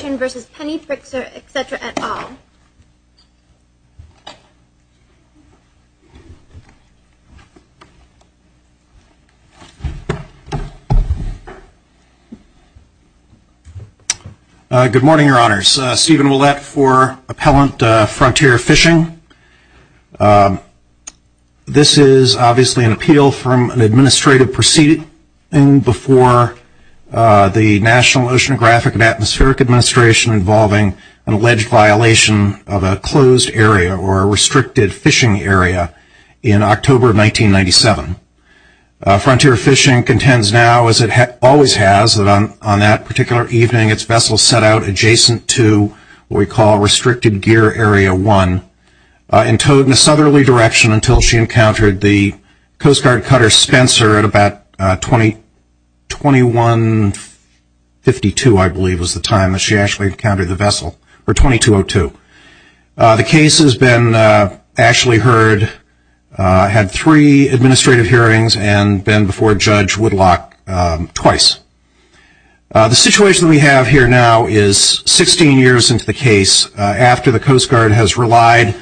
v. Penny Pritzker, et cetera, et al. Good morning, Your Honors. Stephen Ouellette for Appellant Frontier Fishing. This is obviously an appeal from an administrative proceeding before the National Oceanographic and Atmospheric Administration involving an alleged violation of a closed area, or a restricted fishing area, in October of 1997. Frontier Fishing contends now, as it always has, that on that particular evening its vessel set out adjacent to what we call Restricted Gear Area 1, and towed in a southerly direction until she encountered the Coast Guard Cutter Spencer at about 2152, I believe, was the time that she actually encountered the vessel, or 2202. The case has been actually heard, had three administrative hearings, and been before Judge Woodlock twice. The situation we have here now is 16 years into the case, after the Coast Guard has relied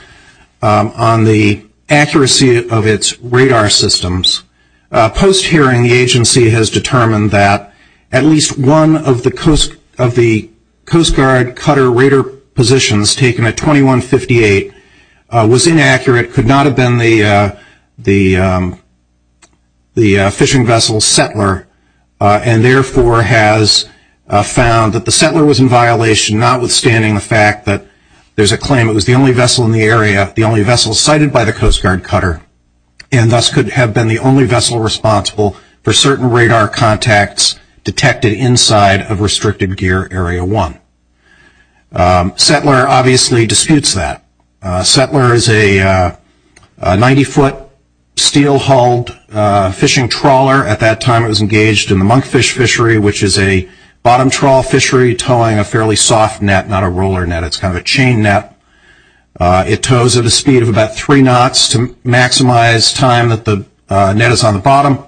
on the accuracy of its radar systems. Post-hearing, the agency has determined that at least one of the Coast Guard Cutter radar positions taken at 2158 was inaccurate, could not have been the fishing vessel's settler, and therefore has found that the settler was in violation, notwithstanding the fact that there's a claim it was the only vessel in the area, the only vessel sighted by the Coast Guard Cutter, and thus could have been the only vessel responsible for certain radar contacts detected inside of Restricted Gear Area 1. Settler obviously disputes that. Settler is a 90-foot steel-hulled fishing trawler. At that time it was engaged in the monkfish fishery, which is a bottom trawl fishery towing a fairly soft net, not a roller net. It's kind of a chain net. It tows at a speed of about three knots to maximize time that the net is on the bottom.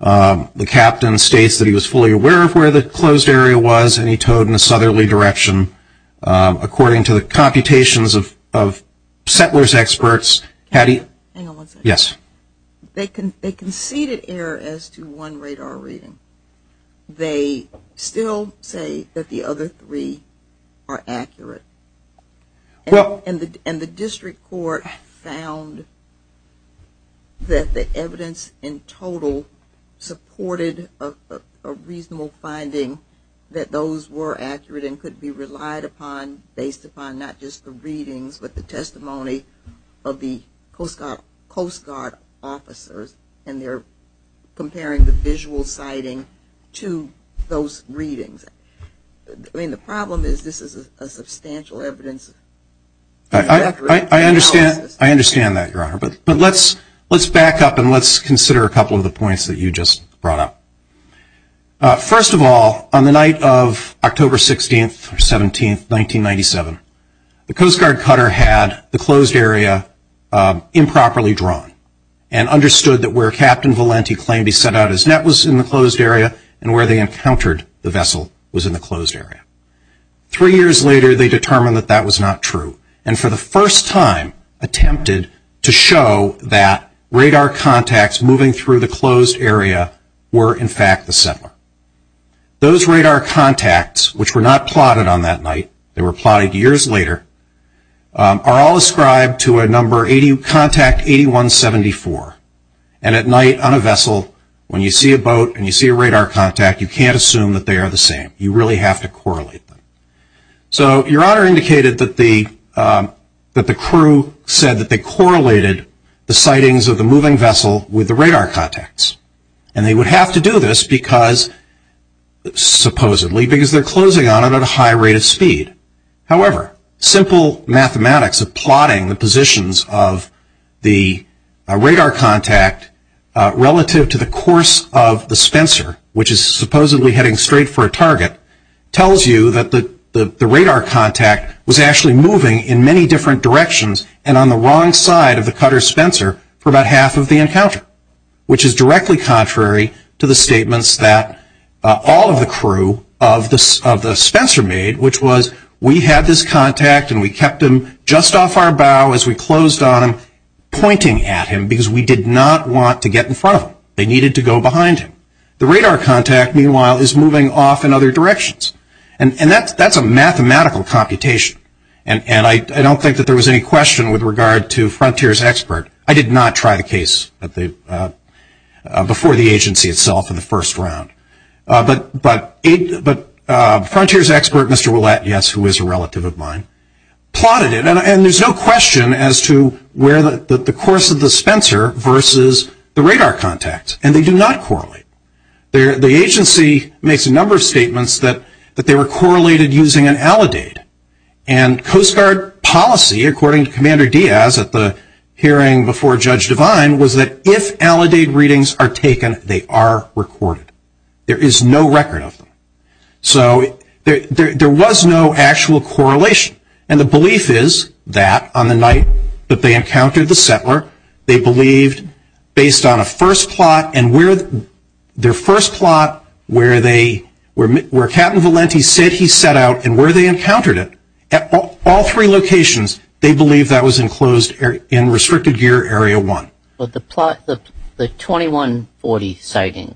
The captain states that he was fully aware of where the closed area was, and he towed in a southerly direction. According to the computations of settler's experts, had he... They still say that the other three are accurate. And the district court found that the evidence in total supported a reasonable finding that those were accurate and could be relied upon based upon not just the readings but the testimony of the Coast Guard officers, and they're comparing the visual sighting to those readings. I mean, the problem is this is a substantial evidence. I understand that, Your Honor, but let's back up and let's consider a couple of the points that you just brought up. First of all, on the night of October 16th or 17th, 1997, and understood that where Captain Valenti claimed he set out his net was in the closed area and where they encountered the vessel was in the closed area. Three years later, they determined that that was not true, and for the first time attempted to show that radar contacts moving through the closed area were, in fact, the settler. Those radar contacts, which were not plotted on that night, they were plotted years later, are all ascribed to a number contact 8174. And at night on a vessel, when you see a boat and you see a radar contact, you can't assume that they are the same. You really have to correlate them. So Your Honor indicated that the crew said that they correlated the sightings of the moving vessel with the radar contacts, and they would have to do this because, supposedly, because they're closing on it at a high rate of speed. However, simple mathematics of plotting the positions of the radar contact relative to the course of the Spencer, which is supposedly heading straight for a target, tells you that the radar contact was actually moving in many different directions and on the wrong side of the cutter Spencer for about half of the encounter, which is directly contrary to the statements that all of the crew of the Spencer made, which was we had this contact and we kept him just off our bow as we closed on him, pointing at him because we did not want to get in front of him. They needed to go behind him. The radar contact, meanwhile, is moving off in other directions. And that's a mathematical computation, and I don't think that there was any question with regard to Frontier's expert. I did not try the case before the agency itself in the first round. But Frontier's expert, Mr. Ouellette, yes, who is a relative of mine, plotted it, and there's no question as to where the course of the Spencer versus the radar contact, and they do not correlate. The agency makes a number of statements that they were correlated using an alidade, and Coast Guard policy, according to Commander Diaz at the hearing before Judge Devine, was that if alidade readings are taken, they are recorded. There is no record of them. So there was no actual correlation. And the belief is that on the night that they encountered the settler, they believed, based on a first plot, and their first plot where Captain Valenti said he set out and where they encountered it, at all three locations, they believed that was enclosed in restricted gear area one. But the 2140 sighting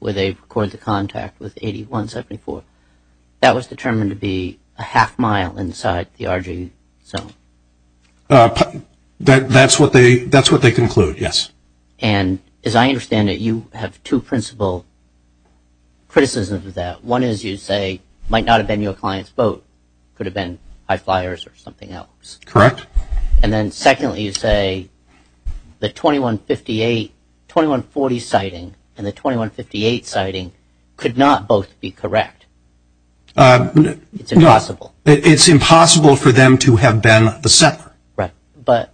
where they recorded the contact with 8174, that was determined to be a half mile inside the RG zone. That's what they conclude, yes. And as I understand it, you have two principal criticisms of that. One is you say it might not have been your client's boat. It could have been high flyers or something else. Correct. And then secondly, you say the 2150 sighting and the 2158 sighting could not both be correct. It's impossible. It's impossible for them to have been the settler. Right. But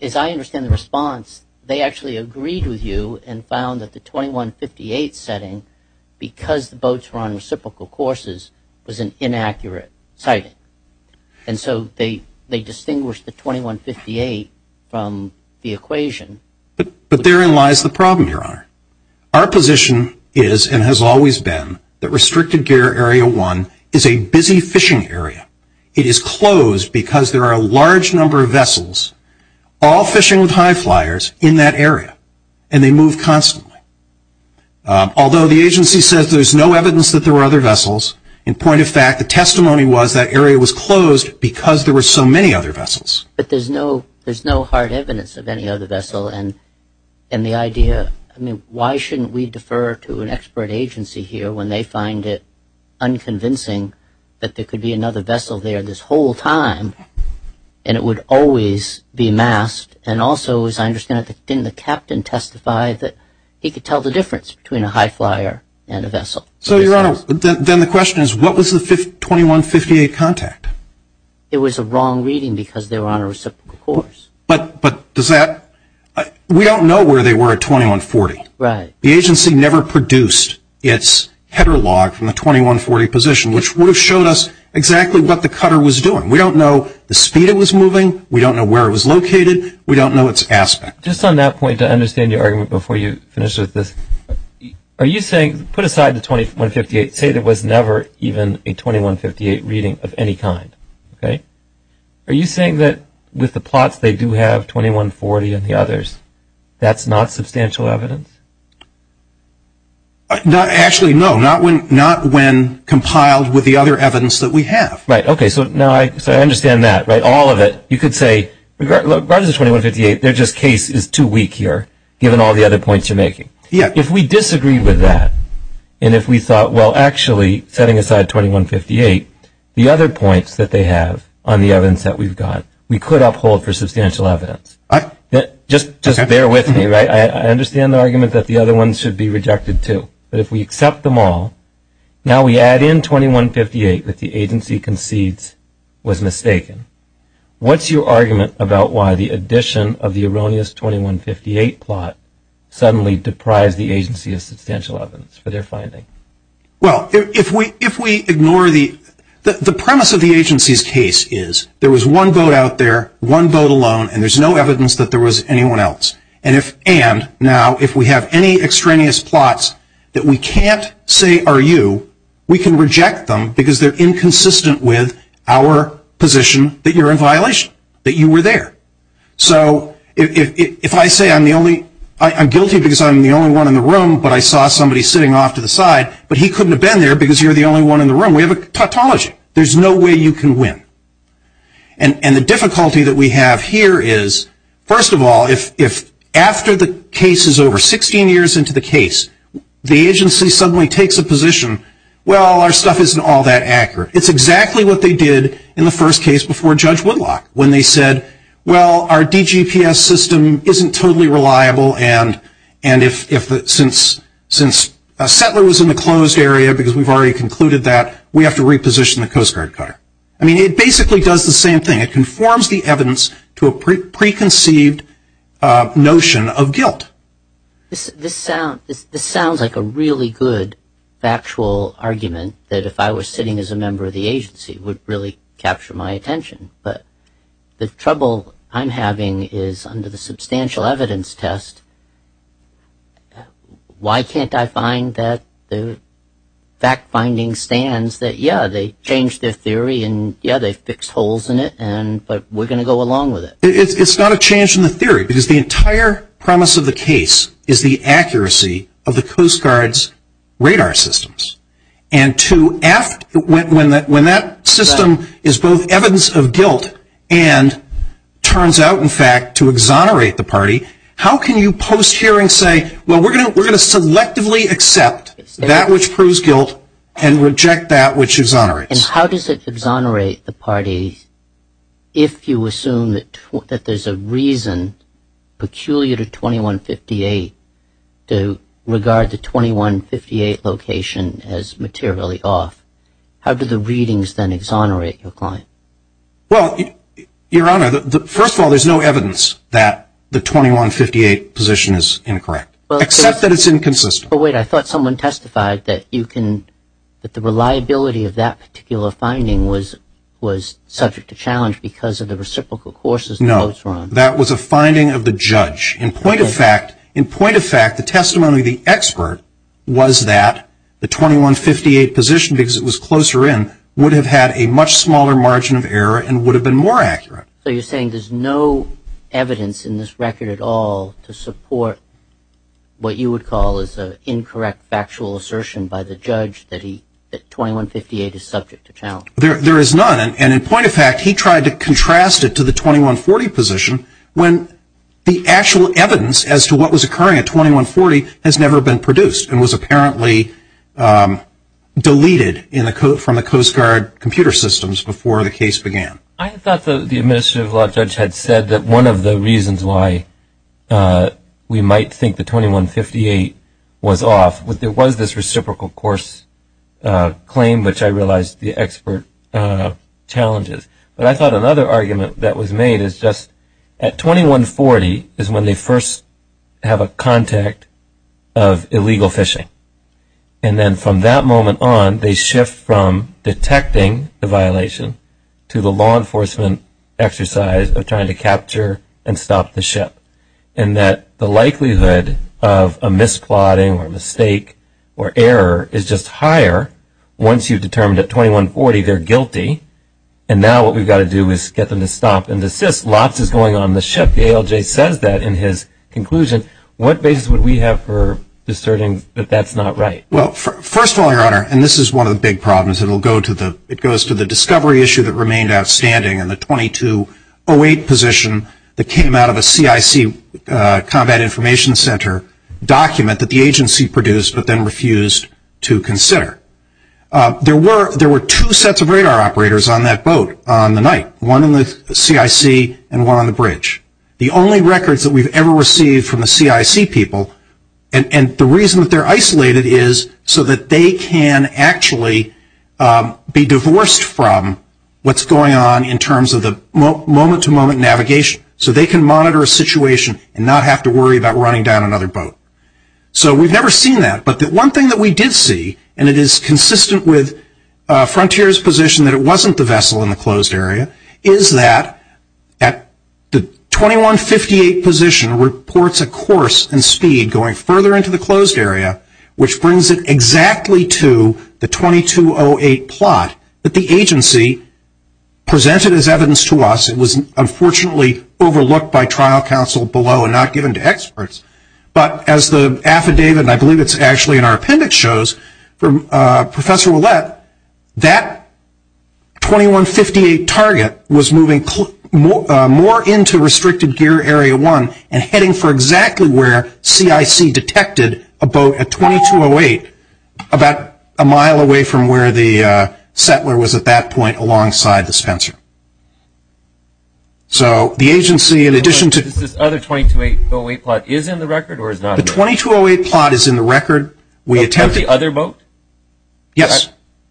as I understand the response, they actually agreed with you and found that the 2158 setting, because the boats were on reciprocal courses, was an inaccurate sighting. And so they distinguished the 2158 from the equation. But therein lies the problem, Your Honor. Our position is and has always been that restricted gear area one is a busy fishing area. It is closed because there are a large number of vessels all fishing with high flyers in that area, and they move constantly. Although the agency says there's no evidence that there were other vessels, in point of fact, the testimony was that area was closed because there were so many other vessels. But there's no hard evidence of any other vessel. And the idea, I mean, why shouldn't we defer to an expert agency here when they find it unconvincing that there could be another vessel there this whole time and it would always be masked? And also, as I understand it, didn't the captain testify that he could tell the difference between a high flyer and a vessel? So, Your Honor, then the question is what was the 2158 contact? It was a wrong reading because they were on a reciprocal course. But does that – we don't know where they were at 2140. Right. The agency never produced its header log from the 2140 position, which would have showed us exactly what the cutter was doing. We don't know the speed it was moving. We don't know where it was located. We don't know its aspect. Just on that point, to understand your argument before you finish with this, are you saying, put aside the 2158, say there was never even a 2158 reading of any kind, okay? Are you saying that with the plots they do have 2140 and the others, that's not substantial evidence? Actually, no, not when compiled with the other evidence that we have. Right, okay. So now I understand that, right, all of it. You could say, regardless of 2158, their just case is too weak here, given all the other points you're making. If we disagree with that, and if we thought, well, actually, setting aside 2158, the other points that they have on the evidence that we've got, we could uphold for substantial evidence. Just bear with me, right? I understand the argument that the other ones should be rejected, too. But if we accept them all, now we add in 2158 that the agency concedes was mistaken. What's your argument about why the addition of the erroneous 2158 plot suddenly deprives the agency of substantial evidence for their finding? Well, if we ignore the premise of the agency's case is there was one vote out there, one vote alone, and there's no evidence that there was anyone else. And now, if we have any extraneous plots that we can't say are you, we can reject them because they're inconsistent with our position that you're in violation, that you were there. So if I say I'm guilty because I'm the only one in the room, but I saw somebody sitting off to the side, but he couldn't have been there because you're the only one in the room, we have a tautology. There's no way you can win. And the difficulty that we have here is, first of all, if after the case is over, 16 years into the case, the agency suddenly takes a position, well, our stuff isn't all that accurate. It's exactly what they did in the first case before Judge Woodlock, when they said, well, our DGPS system isn't totally reliable, and since a settler was in the closed area because we've already concluded that, we have to reposition the Coast Guard cutter. I mean, it basically does the same thing. It conforms the evidence to a preconceived notion of guilt. This sounds like a really good factual argument that, if I was sitting as a member of the agency, would really capture my attention. But the trouble I'm having is, under the substantial evidence test, why can't I find that the fact-finding stands that, yeah, they changed their theory and, yeah, they fixed holes in it, but we're going to go along with it. It's not a change in the theory, because the entire premise of the case is the accuracy of the Coast Guard's radar systems. And when that system is both evidence of guilt and turns out, in fact, to exonerate the party, how can you post-hearing say, well, we're going to selectively accept that which proves guilt and reject that which exonerates? And how does it exonerate the party if you assume that there's a reason, peculiar to 2158, to regard the 2158 location as materially off? How do the readings then exonerate your client? Well, Your Honor, first of all, there's no evidence that the 2158 position is incorrect, except that it's inconsistent. But wait, I thought someone testified that you can, that the reliability of that particular finding was subject to challenge because of the reciprocal courses. No, that was a finding of the judge. In point of fact, the testimony of the expert was that the 2158 position, because it was closer in, would have had a much smaller margin of error and would have been more accurate. So you're saying there's no evidence in this record at all to support what you would call is an incorrect factual assertion by the judge that 2158 is subject to challenge? There is none, and in point of fact, he tried to contrast it to the 2140 position when the actual evidence as to what was occurring at 2140 has never been produced and was apparently deleted from the Coast Guard computer systems before the case began. I thought the administrative law judge had said that one of the reasons why we might think the 2158 was off was there was this reciprocal course claim, which I realized the expert challenges. But I thought another argument that was made is just at 2140 is when they first have a contact of illegal fishing. And then from that moment on, they shift from detecting the violation to the law enforcement exercise of trying to capture and stop the ship and that the likelihood of a misplotting or mistake or error is just higher once you've determined at 2140 they're guilty and now what we've got to do is get them to stop and desist. Well, there's lots going on in the ship. The ALJ says that in his conclusion. What basis would we have for discerning that that's not right? Well, first of all, Your Honor, and this is one of the big problems, it goes to the discovery issue that remained outstanding and the 2208 position that came out of a CIC combat information center document that the agency produced but then refused to consider. There were two sets of radar operators on that boat on the night, one in the CIC and one on the bridge. The only records that we've ever received from the CIC people and the reason that they're isolated is so that they can actually be divorced from what's going on in terms of the moment-to-moment navigation so they can monitor a situation and not have to worry about running down another boat. So we've never seen that but the one thing that we did see and it is consistent with Frontier's position that it wasn't the vessel in the closed area is that the 2158 position reports a course and speed going further into the closed area which brings it exactly to the 2208 plot that the agency presented as evidence to us. It was unfortunately overlooked by trial counsel below and not given to experts but as the affidavit and I believe it's actually in our appendix shows from Professor Ouellette, that 2158 target was moving more into restricted gear area one and heading for exactly where CIC detected a boat at 2208 about a mile away from where the settler was at that point alongside the Spencer. So the agency in addition to... Is this other 2208 plot is in the record or is not? The 2208 plot is in the record. Is it the other boat? Yes.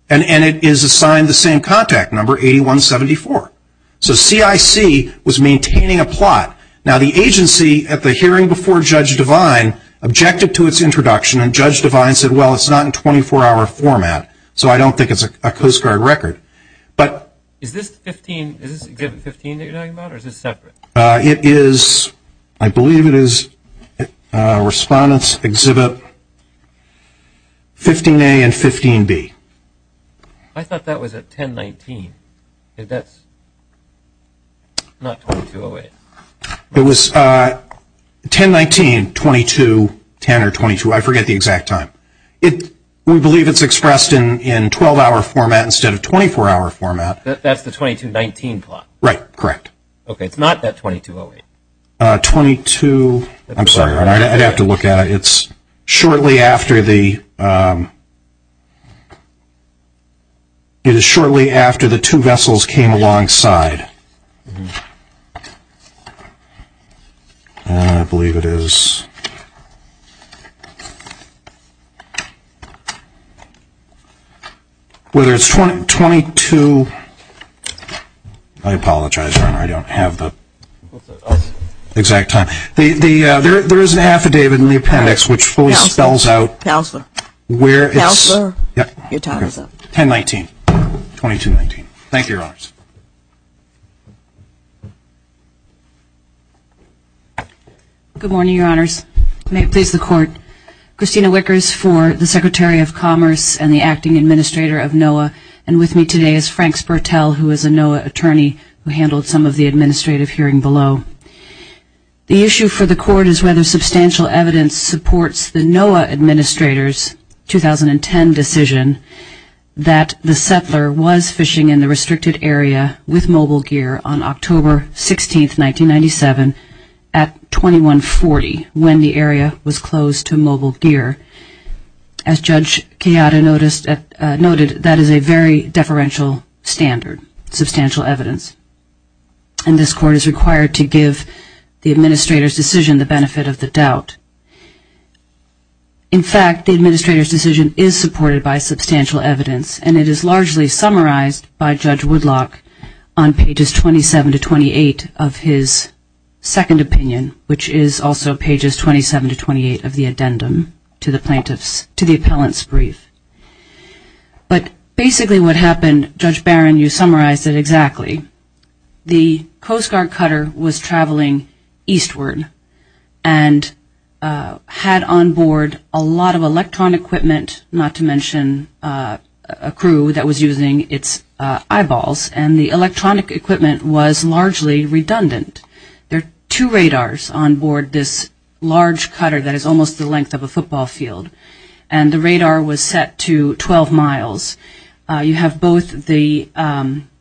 And it is assigned the same contact number, 8174. So CIC was maintaining a plot. Now the agency at the hearing before Judge Devine objected to its introduction and Judge Devine said, well, it's not in 24-hour format so I don't think it's a Coast Guard record. Is this exhibit 15 that you're talking about or is this separate? It is, I believe it is Respondents Exhibit 15A and 15B. I thought that was at 1019. That's not 2208. It was 1019, 22, 10 or 22, I forget the exact time. We believe it's expressed in 12-hour format instead of 24-hour format. That's the 2219 plot. Right, correct. Okay, it's not that 2208. 22, I'm sorry, I'd have to look at it. It's shortly after the two vessels came alongside. I believe it is, whether it's 22, I apologize, Your Honor, I don't have the exact time. There is an affidavit in the appendix which fully spells out where it's 1019, 2219. Thank you, Your Honors. Good morning, Your Honors. May it please the Court. Christina Wickers for the Secretary of Commerce and the Acting Administrator of NOAA, and with me today is Frank Spurtell, who is a NOAA attorney, who handled some of the administrative hearing below. The issue for the Court is whether substantial evidence supports the NOAA administrator's 2010 decision that the settler was fishing in the restricted area with mobile gear on October 16, 1997, at 2140 when the area was closed to mobile gear. As Judge Keada noted, that is a very deferential standard, substantial evidence. And this Court is required to give the administrator's decision the benefit of the doubt. In fact, the administrator's decision is supported by substantial evidence, and it is largely summarized by Judge Woodlock on pages 27 to 28 of his second opinion, which is also pages 27 to 28 of the addendum to the plaintiff's, to the appellant's brief. But basically what happened, Judge Barron, you summarized it exactly. The Coast Guard cutter was traveling eastward and had on board a lot of electronic equipment, not to mention a crew that was using its eyeballs, and the electronic equipment was largely redundant. There are two radars on board this large cutter that is almost the length of a football field, and the radar was set to 12 miles. You have both the, in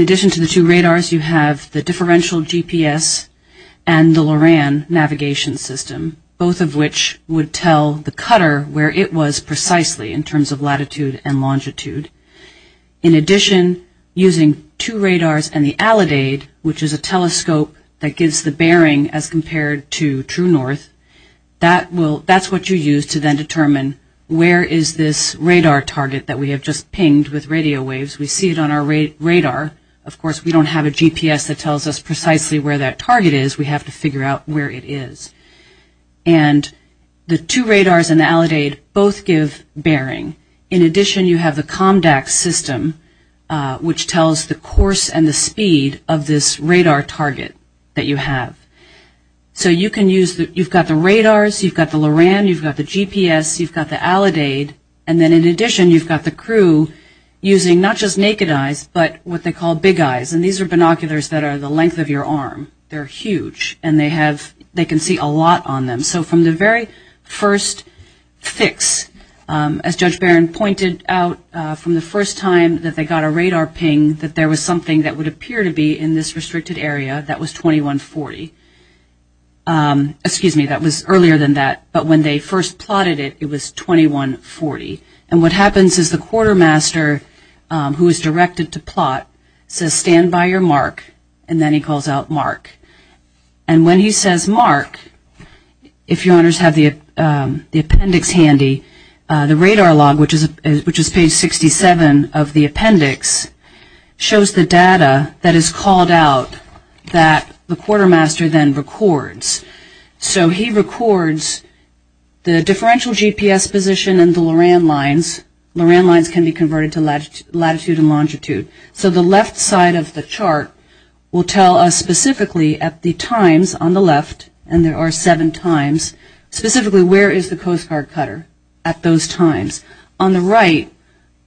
addition to the two radars, you have the differential GPS and the Loran navigation system, both of which would tell the cutter where it was precisely in terms of latitude and longitude. In addition, using two radars and the Allidade, which is a telescope that gives the bearing as compared to True North, that's what you use to then determine where is this radar target that we have just pinged with radio waves. We see it on our radar. Of course, we don't have a GPS that tells us precisely where that target is. We have to figure out where it is. And the two radars and the Allidade both give bearing. In addition, you have the COMDAX system, which tells the course and the speed of this radar target that you have. So you've got the radars, you've got the Loran, you've got the GPS, you've got the Allidade, and then in addition you've got the crew using not just naked eyes but what they call big eyes, and these are binoculars that are the length of your arm. They're huge, and they can see a lot on them. So from the very first fix, as Judge Barron pointed out, from the first time that they got a radar ping that there was something that would appear to be in this restricted area that was 2140. Excuse me, that was earlier than that, but when they first plotted it, it was 2140. And what happens is the quartermaster, who is directed to plot, says, stand by your mark, and then he calls out mark. And when he says mark, if your honors have the appendix handy, the radar log, which is page 67 of the appendix, shows the data that is called out that the quartermaster then records. So he records the differential GPS position and the Loran lines. Loran lines can be converted to latitude and longitude. So the left side of the chart will tell us specifically at the times on the left, and there are seven times, specifically where is the Coast Guard cutter at those times. On the right,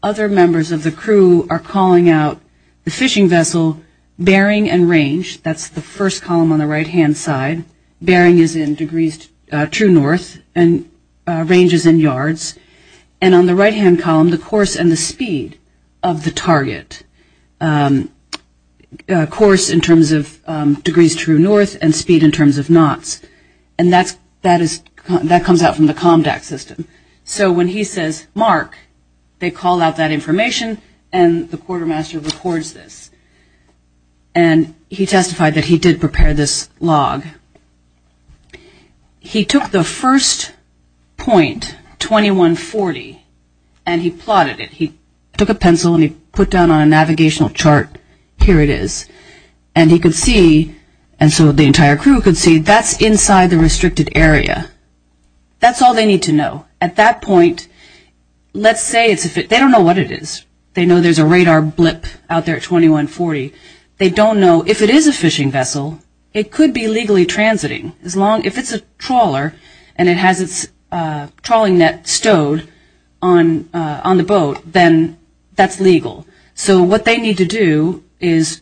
other members of the crew are calling out the fishing vessel bearing and range. That's the first column on the right-hand side. Bearing is in degrees true north, and range is in yards. And on the right-hand column, the course and the speed of the target. Course in terms of degrees true north and speed in terms of knots. And that comes out from the COMDAC system. So when he says mark, they call out that information, and the quartermaster records this. And he testified that he did prepare this log. He took the first point, 2140, and he plotted it. He took a pencil and he put down on a navigational chart, here it is. And he could see, and so the entire crew could see, that's inside the restricted area. That's all they need to know. At that point, let's say, they don't know what it is. They know there's a radar blip out there at 2140. They don't know if it is a fishing vessel, it could be legally transiting. If it's a trawler and it has its trawling net stowed on the boat, then that's legal. So what they need to do is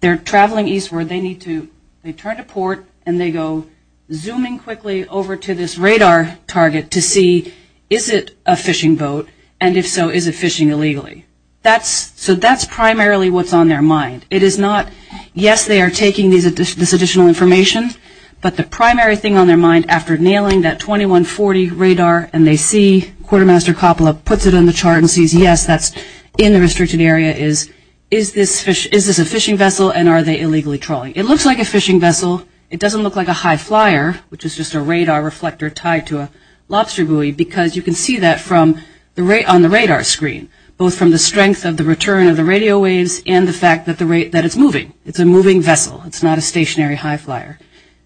they're traveling eastward, they turn to port, and they go zooming quickly over to this radar target to see is it a fishing boat, and if so, is it fishing illegally. So that's primarily what's on their mind. It is not, yes, they are taking this additional information, but the primary thing on their mind after nailing that 2140 radar and they see Quartermaster Coppola puts it on the chart and sees, yes, that's in the restricted area, is this a fishing vessel and are they illegally trawling. It looks like a fishing vessel. It doesn't look like a high flyer, which is just a radar reflector tied to a lobster buoy, because you can see that on the radar screen, both from the strength of the return of the radio waves and the fact that it's moving. It's a moving vessel. It's not a stationary high flyer.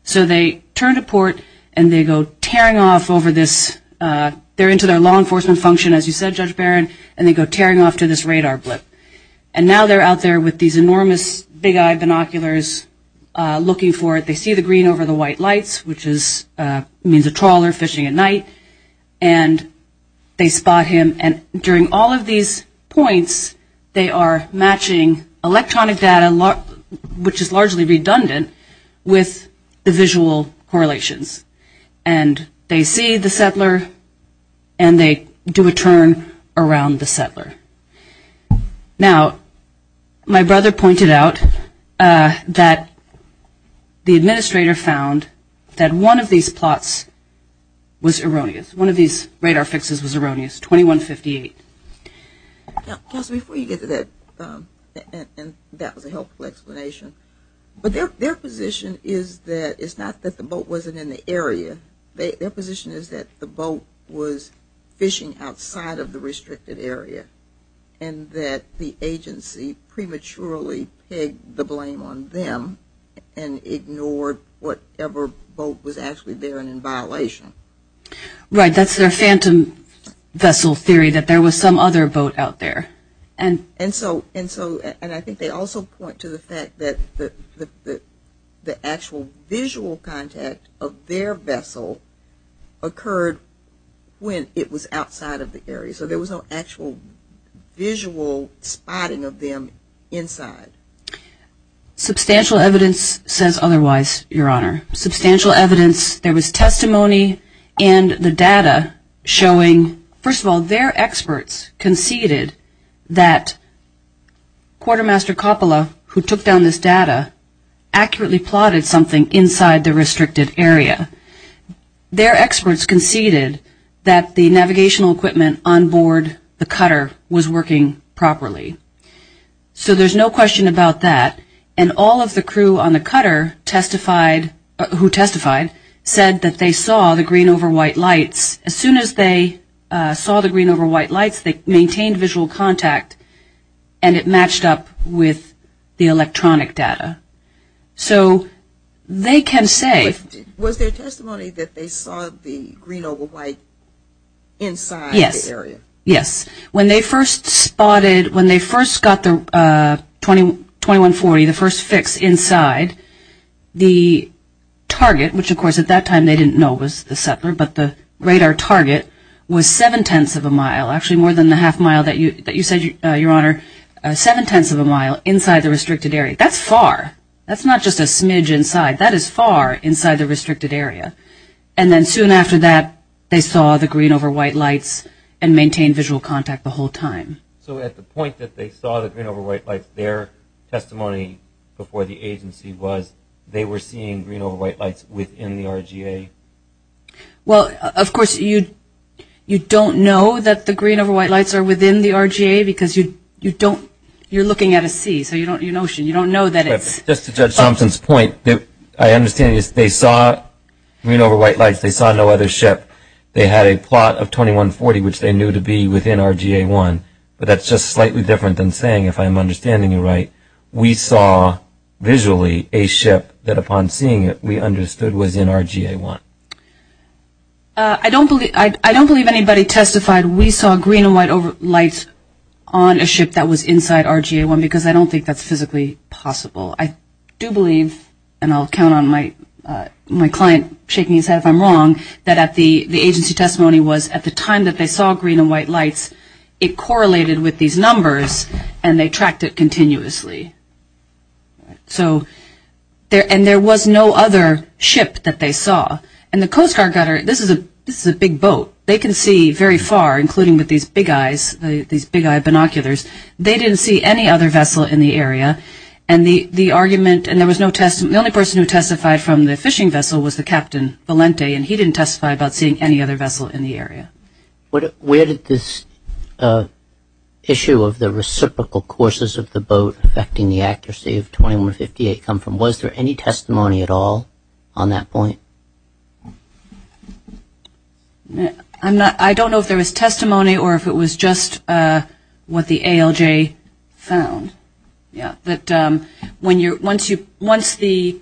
So they turn to port and they go tearing off over this. They're into their law enforcement function, as you said, Judge Barron, and they go tearing off to this radar blip. And now they're out there with these enormous big-eyed binoculars looking for it. They see the green over the white lights, which means a trawler fishing at night, and they spot him. And during all of these points, they are matching electronic data, which is largely redundant, with the visual correlations. And they see the settler and they do a turn around the settler. Now, my brother pointed out that the administrator found that one of these plots was erroneous. One of these radar fixes was erroneous, 2158. Yes, before you get to that, and that was a helpful explanation, but their position is that it's not that the boat wasn't in the area. Their position is that the boat was fishing outside of the restricted area and that the agency prematurely pegged the blame on them and ignored whatever boat was actually there and in violation. Right. That's their phantom vessel theory, that there was some other boat out there. And so I think they also point to the fact that the actual visual contact of their vessel occurred when it was outside of the area. So there was no actual visual spotting of them inside. Substantial evidence says otherwise, Your Honor. Substantial evidence, there was testimony and the data showing, first of all, their experts conceded that Quartermaster Coppola, who took down this data, accurately plotted something inside the restricted area. Their experts conceded that the navigational equipment on board the cutter was working properly. So there's no question about that. And all of the crew on the cutter who testified said that they saw the green over white lights. As soon as they saw the green over white lights, they maintained visual contact and it matched up with the electronic data. So they can say. Was there testimony that they saw the green over white inside the area? Yes. When they first spotted, when they first got the 2140, the first fix inside, the target, which, of course, at that time they didn't know was the settler, but the radar target was seven-tenths of a mile, actually more than the half mile that you said, Your Honor, seven-tenths of a mile inside the restricted area. That's far. That's not just a smidge inside. That is far inside the restricted area. And then soon after that, they saw the green over white lights and maintained visual contact the whole time. So at the point that they saw the green over white lights, their testimony before the agency was they were seeing green over white lights within the RGA. Well, of course, you don't know that the green over white lights are within the RGA because you don't, you're looking at a sea, so you don't know, you don't know that it's. Just to Judge Thompson's point, I understand they saw green over white lights, they saw no other ship. They had a plot of 2140, which they knew to be within RGA 1, but that's just slightly different than saying, if I'm understanding you right, we saw visually a ship that upon seeing it we understood was in RGA 1. I don't believe anybody testified we saw green over white lights on a ship that was inside RGA 1 because I don't think that's physically possible. I do believe, and I'll count on my client shaking his head if I'm wrong, that at the agency testimony was at the time that they saw green and white lights, it correlated with these numbers and they tracked it continuously. So, and there was no other ship that they saw. And the Coast Guard got, this is a big boat. They can see very far, including with these big eyes, these big eyed binoculars. They didn't see any other vessel in the area, and the argument, and there was no, the only person who testified from the fishing vessel was the Captain Valente, and he didn't testify about seeing any other vessel in the area. Where did this issue of the reciprocal courses of the boat affecting the accuracy of 2158 come from? Was there any testimony at all on that point? I'm not, I don't know if there was testimony or if it was just what the ALJ found. Yeah, that when you're, once the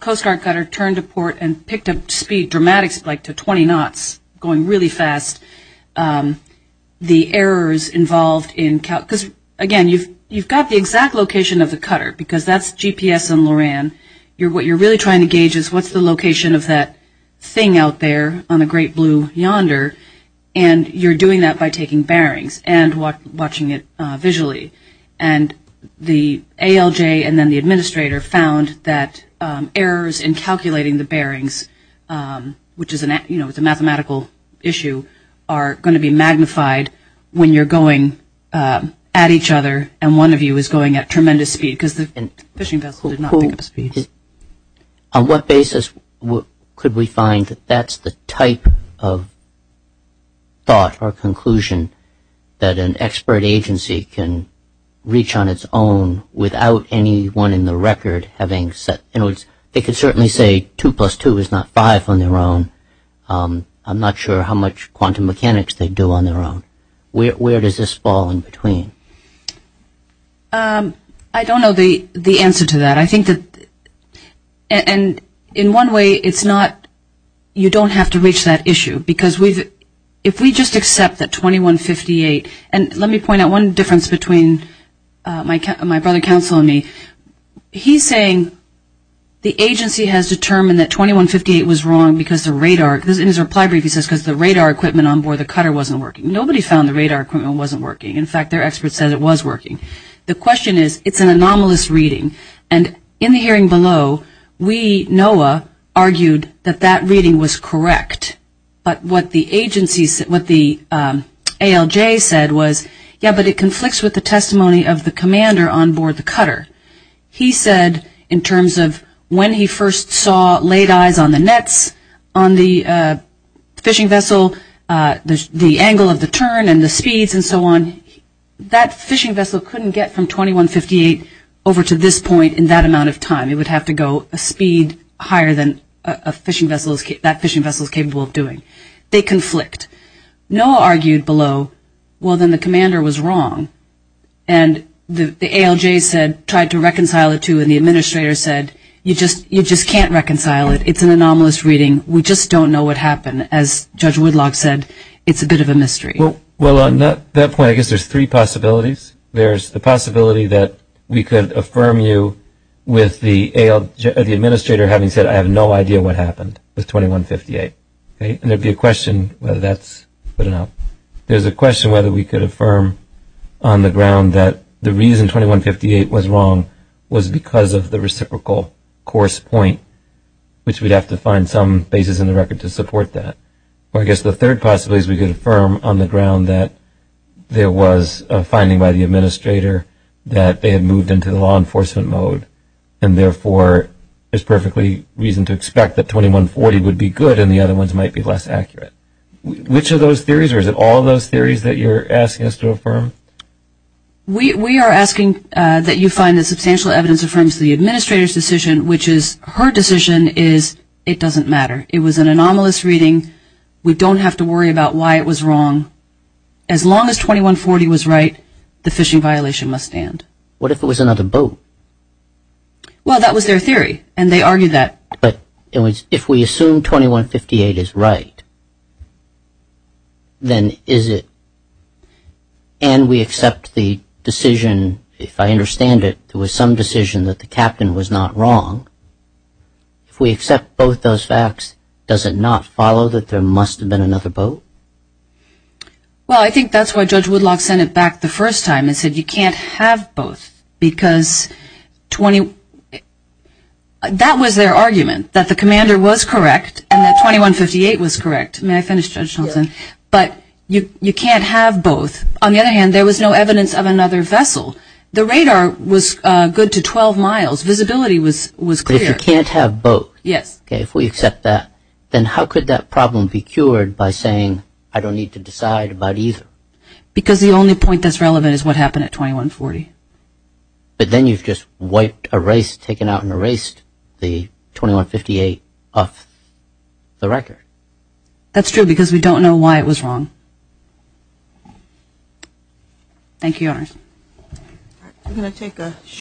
Coast Guard cutter turned to port and picked up speed, dramatic speed, like to 20 knots, going really fast, the errors involved in, because again, you've got the exact location of the cutter, because that's GPS and Loran. What you're really trying to gauge is what's the location of that thing out there on the great blue yonder, and you're doing that by taking bearings and watching it visually. And the ALJ and then the administrator found that errors in calculating the bearings, which is a mathematical issue, are going to be magnified when you're going at each other and one of you is going at tremendous speed, because the fishing vessel did not pick up speed. On what basis could we find that that's the type of thought or conclusion that an expert agency can reach on its own without anyone in the record having said, in other words, they could certainly say 2 plus 2 is not 5 on their own. I'm not sure how much quantum mechanics they do on their own. Where does this fall in between? I don't know the answer to that. I think that, and in one way, it's not, you don't have to reach that issue, because if we just accept that 2158, and let me point out one difference between my brother counsel and me. He's saying the agency has determined that 2158 was wrong because the radar, in his reply brief he says because the radar equipment on board the cutter wasn't working. Nobody found the radar equipment wasn't working. In fact, their expert said it was working. The question is, it's an anomalous reading, and in the hearing below, we, NOAA, argued that that reading was correct. But what the agency, what the ALJ said was, yeah, but it conflicts with the testimony of the commander on board the cutter. He said in terms of when he first saw late eyes on the nets on the fishing vessel, the angle of the turn and the speeds and so on, that fishing vessel couldn't get from 2158 over to this point in that amount of time. It would have to go a speed higher than that fishing vessel is capable of doing. They conflict. NOAA argued below, well, then the commander was wrong. And the ALJ said, tried to reconcile it too, and the administrator said, you just can't reconcile it. It's an anomalous reading. We just don't know what happened. As Judge Woodlock said, it's a bit of a mystery. Well, on that point, I guess there's three possibilities. There's the possibility that we could affirm you with the administrator having said, I have no idea what happened with 2158. And there would be a question whether that's good enough. There's a question whether we could affirm on the ground that the reason 2158 was wrong was because of the reciprocal course point, which we'd have to find some basis in the record to support that. Or I guess the third possibility is we could affirm on the ground that there was a finding by the administrator that they had moved into the law enforcement mode, and therefore there's perfectly reason to expect that 2140 would be good and the other ones might be less accurate. Which of those theories, or is it all of those theories that you're asking us to affirm? We are asking that you find that substantial evidence affirms the administrator's decision, which is her decision is it doesn't matter. It was an anomalous reading. We don't have to worry about why it was wrong. As long as 2140 was right, the phishing violation must stand. What if it was another boat? Well, that was their theory, and they argued that. But if we assume 2158 is right, then is it, and we accept the decision, if I understand it, there was some decision that the captain was not wrong. If we accept both those facts, does it not follow that there must have been another boat? Well, I think that's why Judge Woodlock sent it back the first time and said you can't have both, because that was their argument, that the commander was correct and that 2158 was correct. May I finish, Judge Shelton? Yes. But you can't have both. On the other hand, there was no evidence of another vessel. The radar was good to 12 miles. Visibility was clear. But if you can't have both, okay, if we accept that, then how could that problem be cured by saying I don't need to decide about either? Because the only point that's relevant is what happened at 2140. But then you've just wiped, erased, taken out and erased the 2158 off the record. That's true, because we don't know why it was wrong. Thank you, Your Honors. We're going to take a short break.